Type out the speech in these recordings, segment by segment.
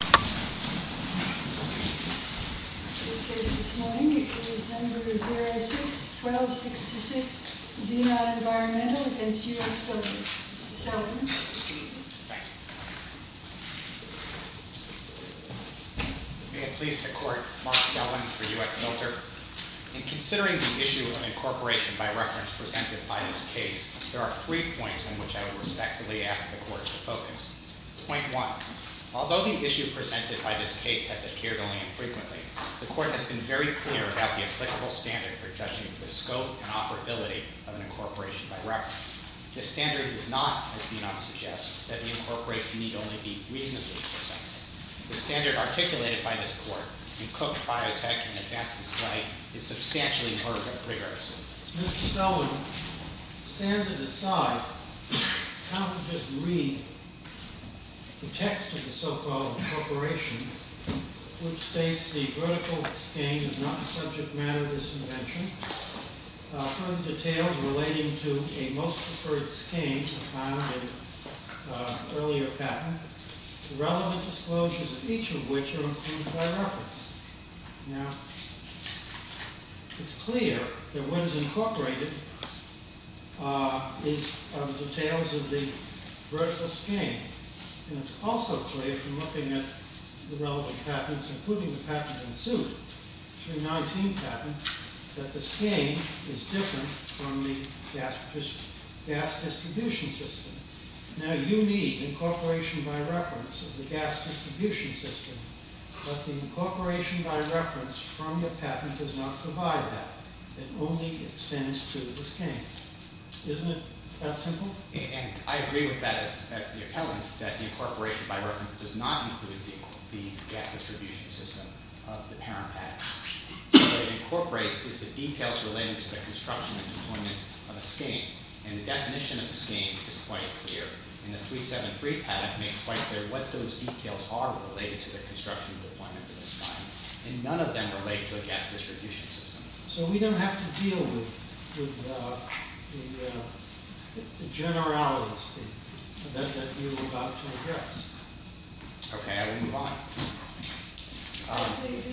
06-1266 Zenon Environmental v. US Filter In considering the issue of incorporation by reference presented by this case, there are three points in which I would respectfully ask the Court to focus. Point 1. Although the issue presented by this case has appeared only infrequently, the Court has been very clear about the applicable standard for judging the scope and operability of an incorporation by reference. This standard does not, as Zenon suggests, that the incorporation need only be reasonably precise. The standard articulated by this Court in Cook, Biotech, and McFadden's case is substantially more rigorous. In this case, Mr. Selwin stands to decide how to just read the text of the so-called incorporation, which states the vertical skein is not the subject matter of this invention. Further details relating to a most preferred skein are found in earlier patent, the relevant disclosures of each of which are included by reference. Now, it's clear that what is incorporated is details of the vertical skein. And it's also clear from looking at the relevant patents, including the patent in suit, 319 patent, that the skein is different from the gas distribution system. Now, you need incorporation by reference of the gas distribution system, but the incorporation by reference from the patent does not provide that. It only extends to the skein. Isn't it that simple? And I agree with that as the appellant, that the incorporation by reference does not include the gas distribution system of the parent patent. What it incorporates is the details related to the construction and deployment of a skein. And the definition of the skein is quite clear. And the 373 patent makes quite clear what those details are related to the construction and deployment of the skein. And none of them relate to a gas distribution system. So we don't have to deal with the generalities that you're about to address. Okay, I will move on.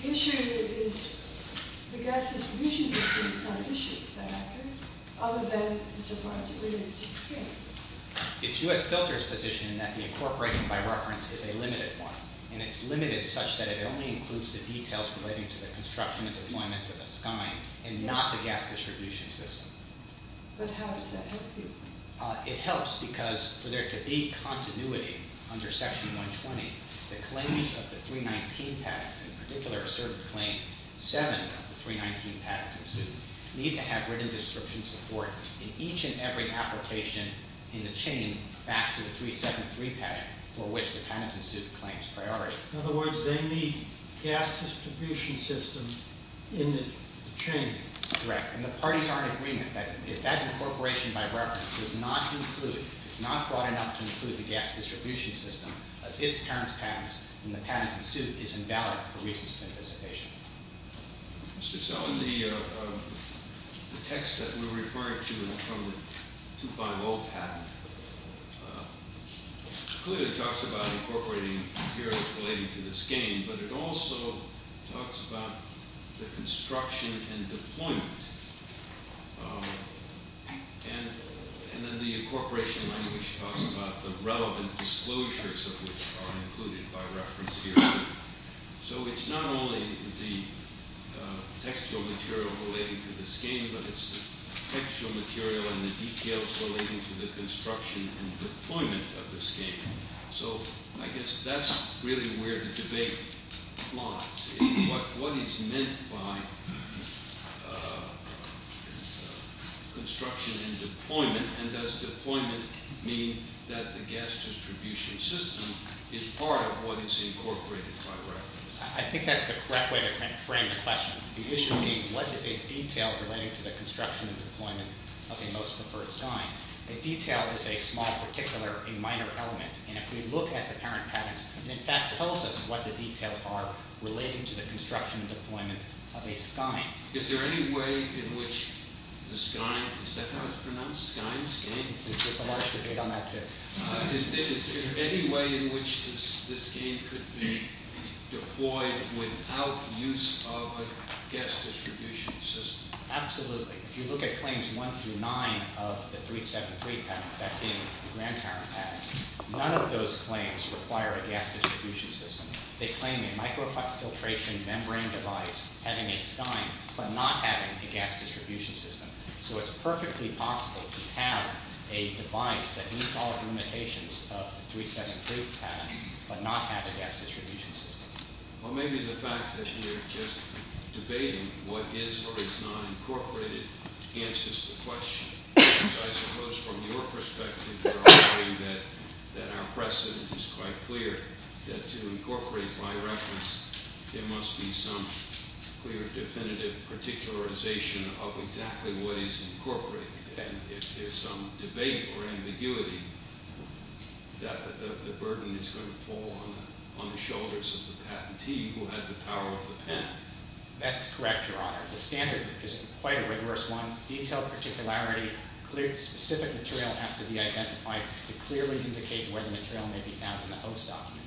The issue is the gas distribution system is not an issue, is that accurate? Other than the surprise it relates to the skein. It's U.S. Filter's position that the incorporation by reference is a limited one. And it's limited such that it only includes the details relating to the construction and deployment of a skein and not the gas distribution system. But how does that help you? It helps because for there to be continuity under section 120, the claims of the 319 patent, in particular a certain claim 7 of the 319 patent suit, need to have written description support in each and every application in the chain back to the 373 patent for which the patent suit claims priority. In other words, they need gas distribution systems in the chain. That's correct. And the parties are in agreement that if that incorporation by reference does not include, if it's not broad enough to include the gas distribution system of its parent's patents, then the patent suit is invalid for reasons of anticipation. Mr. Sell, in the text that we were referring to from the 250 patent, clearly it talks about incorporating materials relating to the skein, but it also talks about the construction and deployment. And then the incorporation language talks about the relevant disclosures of which are included by reference here. So it's not only the textual material relating to the skein, but it's the textual material and the details relating to the construction and deployment of the skein. So I guess that's really where the debate lies. And does deployment mean that the gas distribution system is part of what is incorporated by reference? I think that's the correct way to frame the question. The issue being, what is a detail relating to the construction and deployment of a most preferred skein? A detail is a small, particular, a minor element. And if we look at the parent patents, it in fact tells us what the details are relating to the construction and deployment of a skein. Is there any way in which the skein, is that how it's pronounced, skein, skein? There's a large debate on that too. Is there any way in which this skein could be deployed without use of a gas distribution system? Absolutely. If you look at claims one through nine of the 373 patent, that game, the grandparent patent, none of those claims require a gas distribution system. They claim a microfiltration membrane device having a skein, but not having a gas distribution system. So it's perfectly possible to have a device that meets all the limitations of the 373 patent, but not have a gas distribution system. Well, maybe the fact that you're just debating what is or is not incorporated answers the question. I suppose from your perspective you're arguing that our precedent is quite clear, that to incorporate by reference there must be some clear definitive particularization of exactly what is incorporated. If there's some debate or ambiguity, the burden is going to fall on the shoulders of the patentee who had the power of the pen. That's correct, Your Honor. The standard is quite a rigorous one. Detailed particularity, specific material has to be identified to clearly indicate where the material may be found in the host document.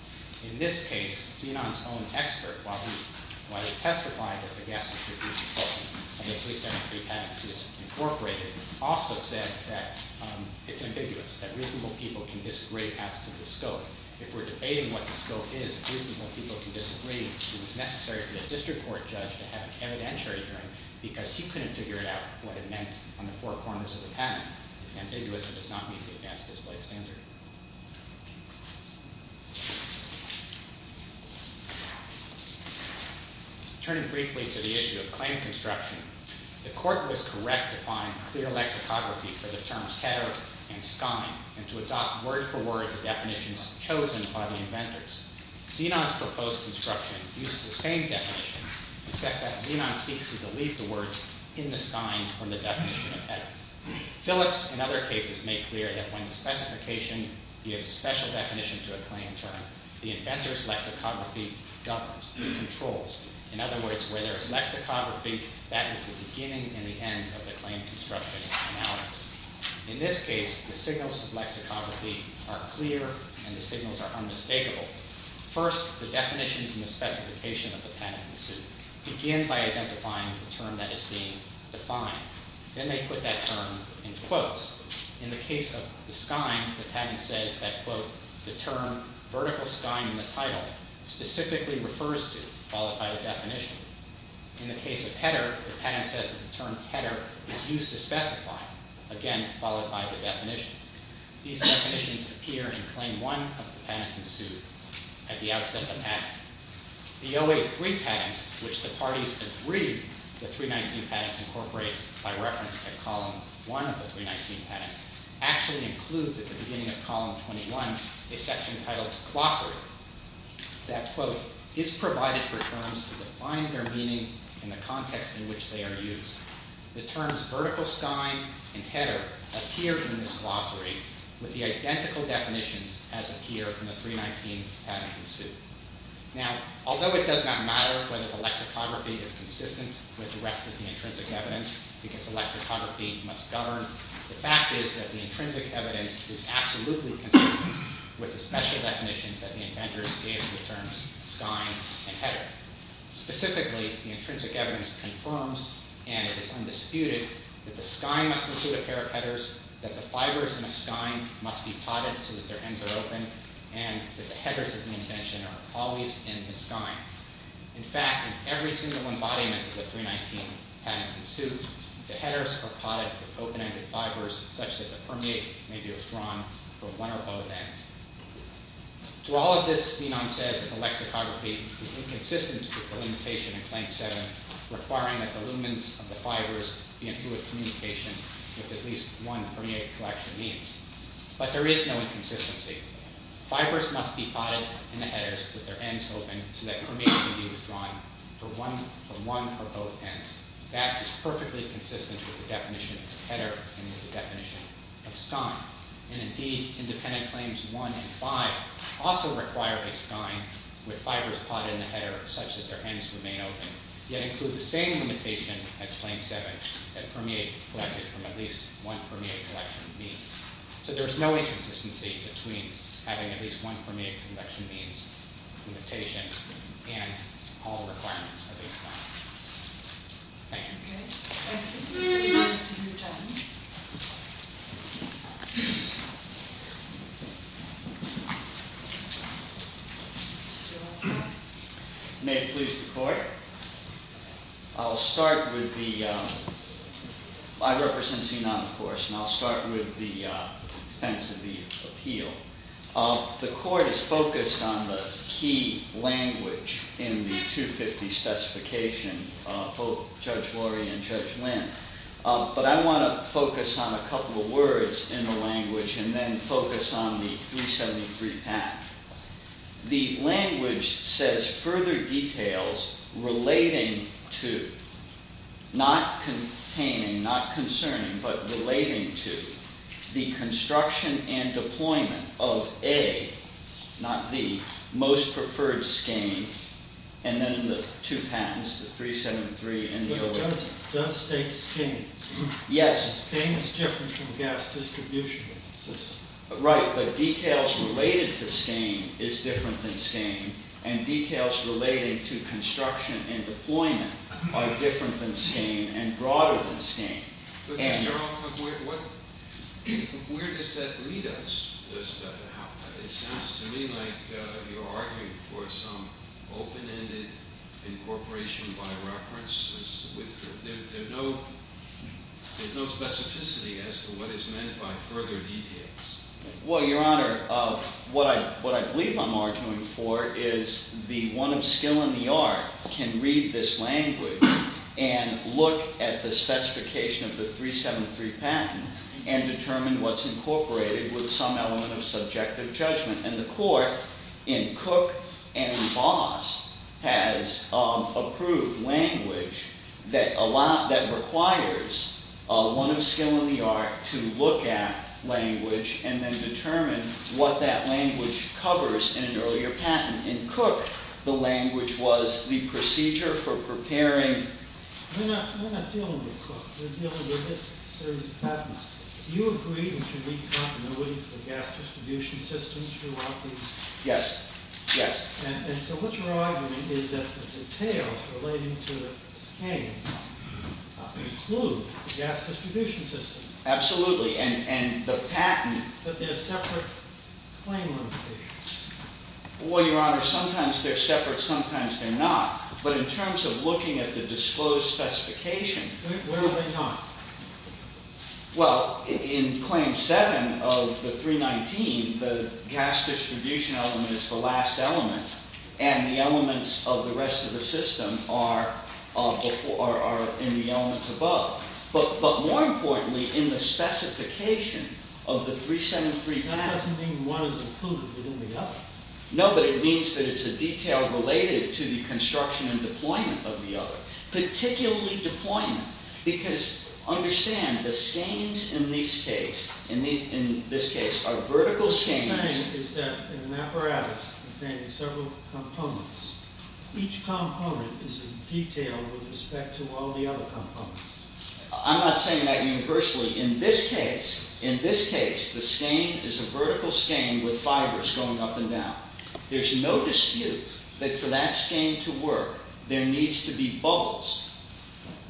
In this case, Zenon's own expert, while he testified that the gas distribution system in the 373 patent is incorporated, also said that it's ambiguous, that reasonable people can disagree as to the scope. If we're debating what the scope is, reasonable people can disagree. It was necessary for the district court judge to have an evidentiary hearing because he couldn't figure out what it meant on the four corners of the patent. It's ambiguous. It does not meet the advanced display standard. Turning briefly to the issue of claim construction, the court was correct to find clear lexicography for the terms header and scion and to adopt word-for-word the definitions chosen by the inventors. Zenon's proposed construction uses the same definitions, except that Zenon seeks to delete the words in the scion from the definition of header. Phillips, in other cases, made clear that when the specification gives special definition to a claim term, the inventor's lexicography governs, controls. In other words, where there is lexicography, that is the beginning and the end of the claim construction analysis. In this case, the signals of lexicography are clear and the signals are unmistakable. First, the definitions and the specification of the patent suit begin by identifying the term that is being defined. Then they put that term in quotes. In the case of the scion, the patent says that, quote, the term vertical scion in the title specifically refers to, followed by the definition. In the case of header, the patent says that the term header is used to specify, again, followed by the definition. These definitions appear in Claim 1 of the patent suit at the outset of the patent. The OA3 patent, which the parties agreed the 319 patent incorporates by reference to Column 1 of the 319 patent, actually includes at the beginning of Column 21 a section titled glossary that, quote, is provided for terms to define their meaning in the context in which they are used. The terms vertical scion and header appear in this glossary with the identical definitions as appear in the 319 patent suit. Now, although it does not matter whether the lexicography is consistent with the rest of the intrinsic evidence, because the lexicography must govern, the fact is that the intrinsic evidence is absolutely consistent with the special definitions that the inventors gave for terms scion and header. Specifically, the intrinsic evidence confirms, and it is undisputed, that the scion must include a pair of headers, that the fibers in a scion must be potted so that their ends are open, and that the headers of the invention are always in the scion. In fact, in every single embodiment of the 319 patent suit, the headers are potted with open-ended fibers such that the permeate may be withdrawn from one or both ends. To all of this, Menon says that the lexicography is inconsistent with the limitation in Claim 7 requiring that the lumens of the fibers be in fluid communication with at least one permeate collection means. But there is no inconsistency. Fibers must be potted in the headers with their ends open so that permeate can be withdrawn from one or both ends. That is perfectly consistent with the definition of header and with the definition of scion. Indeed, independent Claims 1 and 5 also require a scion with fibers potted in the header such that their ends remain open, yet include the same limitation as Claim 7 that permeate collected from at least one permeate collection means. So there is no inconsistency between having at least one permeate collection means limitation and all requirements of a scion. Thank you. May it please the Court. I'll start with the, I represent C-9 of course, and I'll start with the defense of the appeal. The Court is focused on the key language in the 250 specification, both Judge Lori and Judge Lynn. But I want to focus on a couple of words in the language and then focus on the 373 pact. The language says further details relating to, not containing, not concerning, but relating to, the construction and deployment of A, not B, most preferred scion. And then the two patents, the 373 and the 111. But does state scion? Yes. Scion is different from gas distribution system. Right, but details related to scion is different than scion, and details relating to construction and deployment are different than scion and broader than scion. Where does that lead us? It sounds to me like you're arguing for some open-ended incorporation by reference. There's no specificity as to what is meant by further details. Well, Your Honor, what I believe I'm arguing for is the one of skill in the art can read this language and look at the specification of the 373 patent and determine what's incorporated with some element of subjective judgment. And the court in Cook and Voss has approved language that requires one of skill in the art to look at language and then determine what that language covers in an earlier patent. And in Cook, the language was the procedure for preparing... We're not dealing with Cook. We're dealing with this series of patents. Do you agree that you need continuity for gas distribution systems throughout these? Yes. Yes. And so what you're arguing is that the details relating to the scion include the gas distribution system. Absolutely. And the patent... But they're separate claim limitations. Well, Your Honor, sometimes they're separate, sometimes they're not. But in terms of looking at the disclosed specification... Where are they not? Well, in Claim 7 of the 319, the gas distribution element is the last element and the elements of the rest of the system are in the elements above. But more importantly, in the specification of the 373 patent... No, but it means that it's a detail related to the construction and deployment of the other, particularly deployment. Because, understand, the scions in this case are vertical scions... What you're saying is that in an apparatus containing several components, each component is a detail with respect to all the other components. I'm not saying that universally. In this case, the scion is a vertical scion with fibers going up and down. There's no dispute that for that scion to work, there needs to be bubbles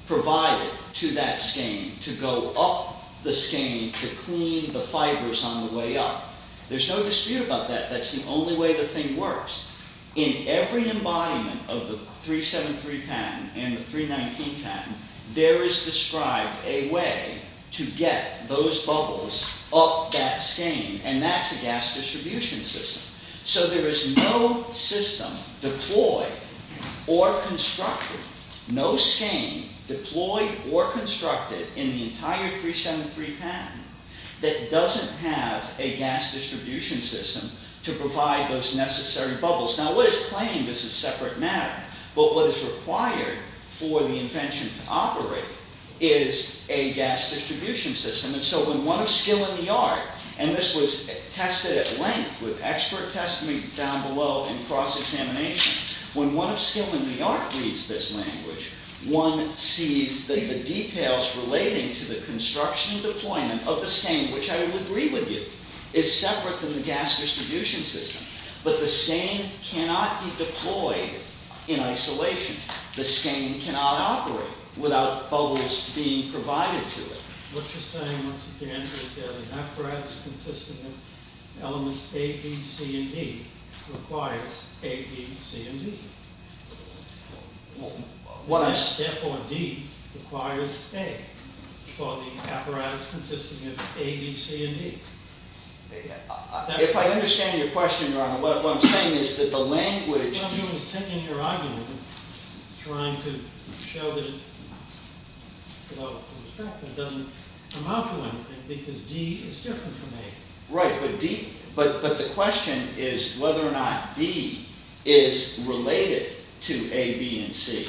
provided to that scion to go up the scion to clean the fibers on the way up. There's no dispute about that. That's the only way the thing works. In every embodiment of the 373 patent and the 319 patent, there is described a way to get those bubbles up that scion. And that's a gas distribution system. So there is no system deployed or constructed, no scion deployed or constructed in the entire 373 patent that doesn't have a gas distribution system to provide those necessary bubbles. Now, what is claimed is a separate matter. But what is required for the invention to operate is a gas distribution system. And so when one of skill in the art, and this was tested at length with expert testimony down below in cross-examination, when one of skill in the art reads this language, one sees the details relating to the construction and deployment of the scion, which I would agree with you, is separate from the gas distribution system. But the scion cannot be deployed in isolation. The scion cannot operate without bubbles being provided to it. What you're saying, Mr. Daniels, is that an apparatus consisting of elements A, B, C, and D requires A, B, C, and D. What I said for D requires A for the apparatus consisting of A, B, C, and D. If I understand your question, Your Honor, what I'm saying is that the language... You're taking your argument and trying to show that it doesn't amount to anything because D is different from A. Right, but the question is whether or not D is related to A, B, and C,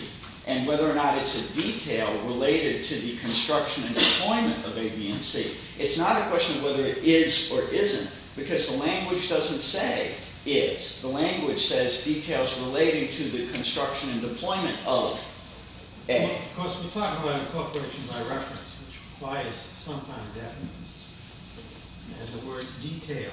and whether or not it's a detail related to the construction and deployment of A, B, and C. It's not a question of whether it is or isn't because the language doesn't say is. The language says details relating to the construction and deployment of A. Of course, we're talking about incorporation by reference, which requires some kind of evidence. And the word detail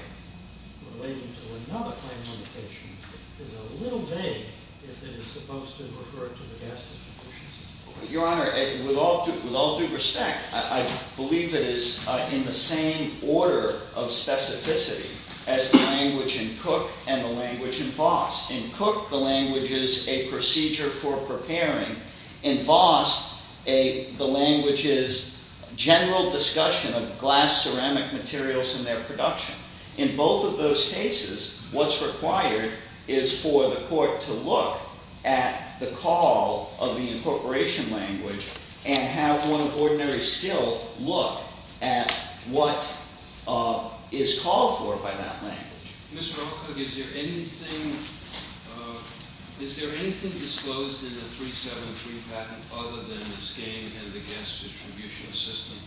relating to another claim limitation is a little vague if it is supposed to refer to the gas distribution system. Your Honor, with all due respect, I believe it is in the same order of specificity as the language in Cook and the language in Voss. In Cook, the language is a procedure for preparing. In Voss, the language is general discussion of glass ceramic materials and their production. In both of those cases, what's required is for the court to look at the call of the incorporation language and have one of ordinary skill look at what is called for by that language. Mr. Alcock, is there anything disclosed in the 373 patent other than the scheme and the gas distribution system?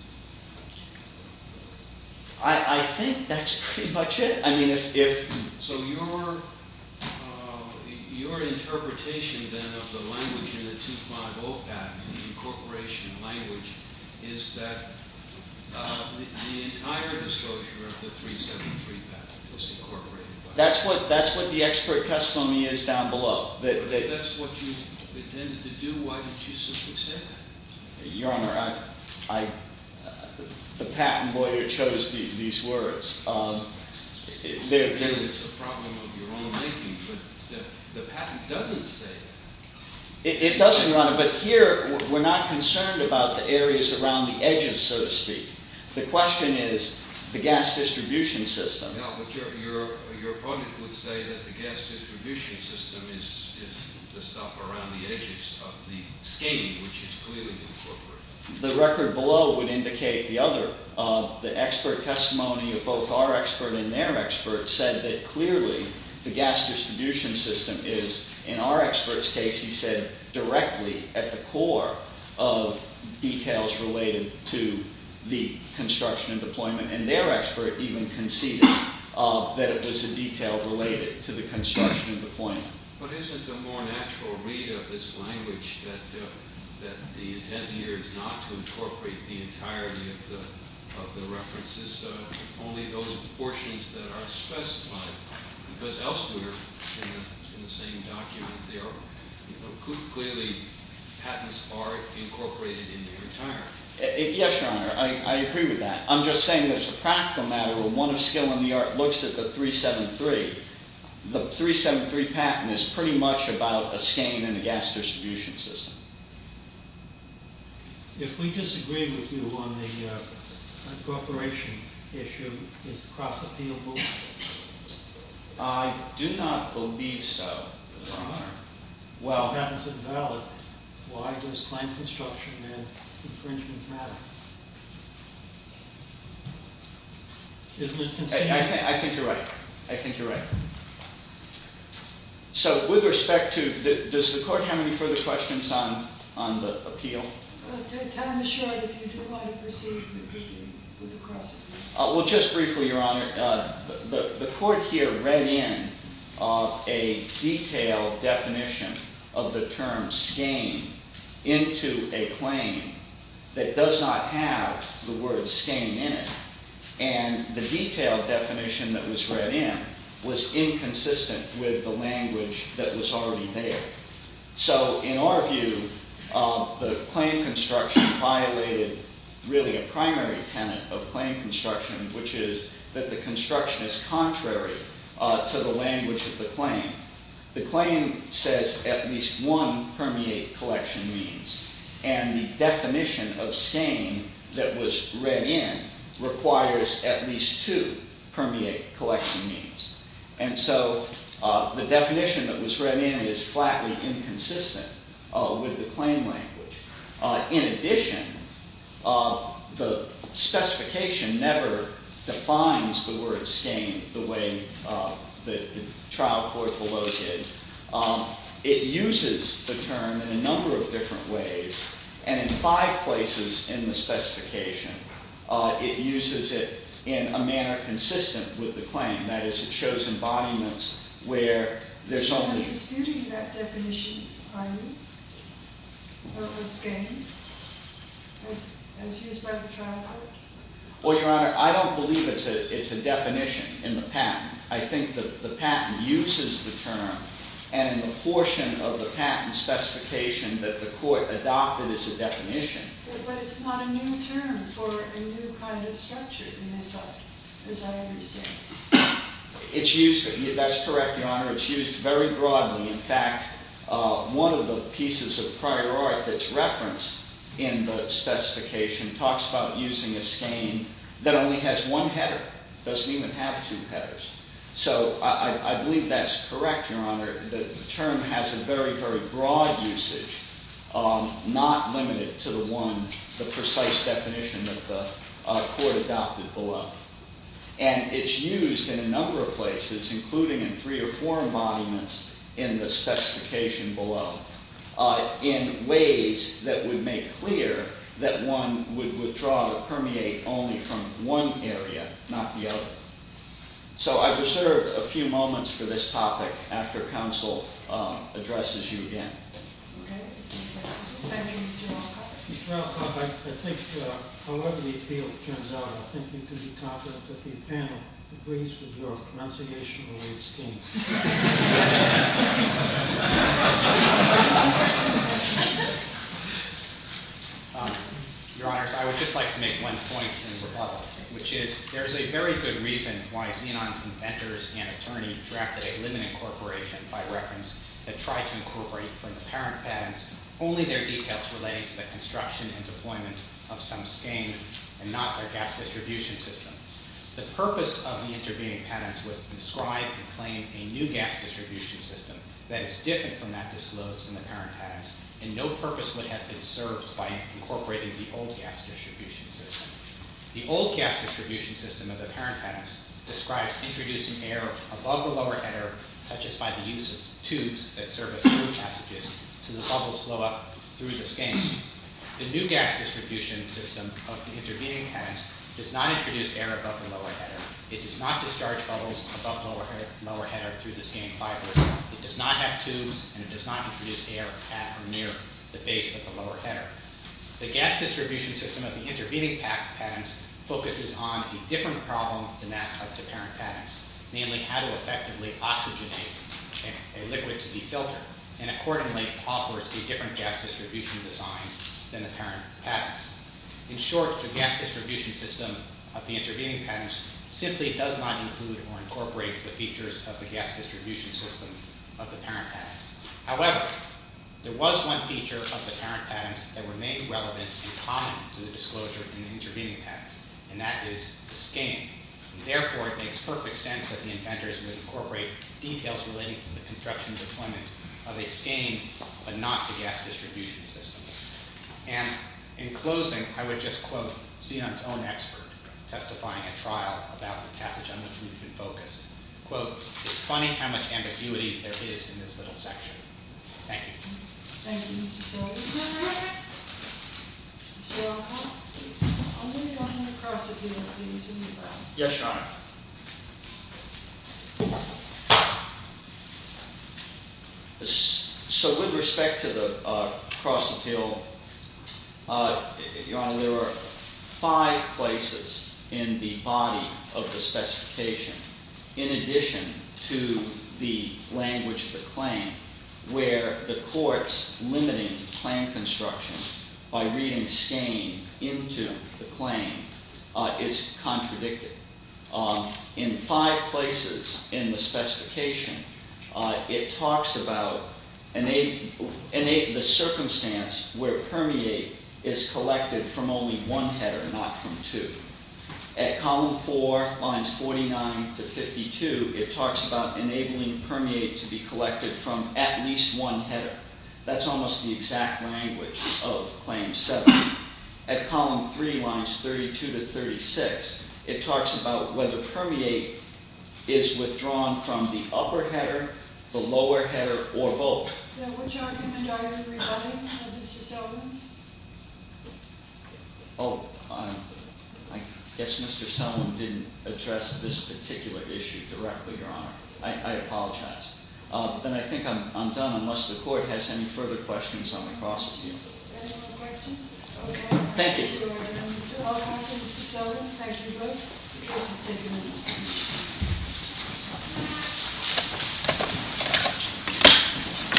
I think that's pretty much it. So your interpretation, then, of the language in the 250 patent, the incorporation language, is that the entire disclosure of the 373 patent was incorporated. That's what the expert testimony is down below. If that's what you intended to do, why didn't you simply say that? Your Honor, the patent lawyer chose these words. It's a problem of your own making, but the patent doesn't say that. It doesn't, Your Honor, but here we're not concerned about the areas around the edges, so to speak. The question is the gas distribution system. Your opponent would say that the gas distribution system is the stuff around the edges of the scheme, which is clearly incorporated. The record below would indicate the other. The expert testimony of both our expert and their expert said that clearly the gas distribution system is, in our expert's case, he said, directly at the core of details related to the construction and deployment, and their expert even conceded that it was a detail related to the construction and deployment. But isn't a more natural read of this language that the intent here is not to incorporate the entirety of the references, only those portions that are specified, because elsewhere in the same document, clearly patents are incorporated in their entirety. Yes, Your Honor, I agree with that. I'm just saying that it's a practical matter when one of skill in the art looks at the 373. The 373 patent is pretty much about a scheme and a gas distribution system. If we disagree with you on the corporation issue, is it cross-appealable? If the patent is invalid, why does claim construction and infringement matter? I think you're right. I think you're right. So with respect to – does the court have any further questions on the appeal? Time is short. If you don't mind, proceed with the cross-appeal. Well, just briefly, Your Honor. The court here read in a detailed definition of the term scheme into a claim that does not have the word scheme in it. And the detailed definition that was read in was inconsistent with the language that was already there. So in our view, the claim construction violated really a primary tenet of claim construction, which is that the construction is contrary to the language of the claim. The claim says at least one permeate collection means. And the definition of scheme that was read in requires at least two permeate collection means. And so the definition that was read in is flatly inconsistent with the claim language. In addition, the specification never defines the word scheme the way the trial court below did. It uses the term in a number of different ways. And in five places in the specification, it uses it in a manner consistent with the claim. That is, it shows embodiments where there's only –– word scheme as used by the trial court? Well, Your Honor, I don't believe it's a definition in the patent. I think the patent uses the term. And the portion of the patent specification that the court adopted is a definition. But it's not a new term for a new kind of structure in this act, as I understand. It's used – that's correct, Your Honor. It's used very broadly. In fact, one of the pieces of prior art that's referenced in the specification talks about using a scheme that only has one header. It doesn't even have two headers. So I believe that's correct, Your Honor. The term has a very, very broad usage, not limited to the one – the precise definition that the court adopted below. And it's used in a number of places, including in three or four embodiments in the specification below, in ways that would make clear that one would withdraw or permeate only from one area, not the other. So I've reserved a few moments for this topic after counsel addresses you again. Okay. Thank you, Mr. Rothoff. Mr. Rothoff, I think however the appeal turns out, I think you can be confident that the panel agrees with your commenciation-related scheme. Your Honors, I would just like to make one point in rebuttal, which is there is a very good reason why Zenon's inventors and attorney drafted a limited corporation, by reference, that tried to incorporate from the parent patents only their details relating to the construction and deployment of some scheme and not their gas distribution system. The purpose of the intervening patents was to describe and claim a new gas distribution system that is different from that disclosed in the parent patents and no purpose would have been served by incorporating the old gas distribution system. The old gas distribution system of the parent patents describes introducing air above the lower header, such as by the use of tubes that serve as flow passages so the bubbles flow up through the scheme. The new gas distribution system of the intervening patents does not introduce air above the lower header. It does not discharge bubbles above the lower header through the scheme fibers. It does not have tubes and it does not introduce air at or near the base of the lower header. The gas distribution system of the intervening patents focuses on a different problem than that of the parent patents, namely how to effectively oxygenate a liquid to be filtered and accordingly offers a different gas distribution design than the parent patents. In short, the gas distribution system of the intervening patents simply does not include or incorporate the features of the gas distribution system of the parent patents. However, there was one feature of the parent patents that remained relevant and common to the disclosure in the intervening patents and that is the scheme. Therefore, it makes perfect sense that the inventors would incorporate details relating to the construction and deployment of a scheme but not the gas distribution system. And in closing, I would just quote Xi'an's own expert testifying at trial about the passage on which we've been focused. Quote, it's funny how much ambiguity there is in this little section. Thank you. Thank you, Mr. Sullivan. Mr. Alcock, I'm going to go on to the cross-appeal. Yes, Your Honor. So with respect to the cross-appeal, Your Honor, there are five places in the body of the specification in addition to the language of the claim where the court's limiting claim construction by reading scheme into the claim is contradicted. In five places in the specification, it talks about the circumstance where permeate is collected from only one header, not from two. At column four, lines 49 to 52, it talks about enabling permeate to be collected from at least one header. That's almost the exact language of claim seven. At column three, lines 32 to 36, it talks about whether permeate is withdrawn from the upper header, the lower header, or both. Now, which argument are you rebutting, Mr. Sullivan? Oh, I guess Mr. Sullivan didn't address this particular issue directly, Your Honor. I apologize. Then I think I'm done unless the court has any further questions on the cross-appeal. Any more questions? Thank you. Mr. Alcock and Mr. Sullivan, thank you both.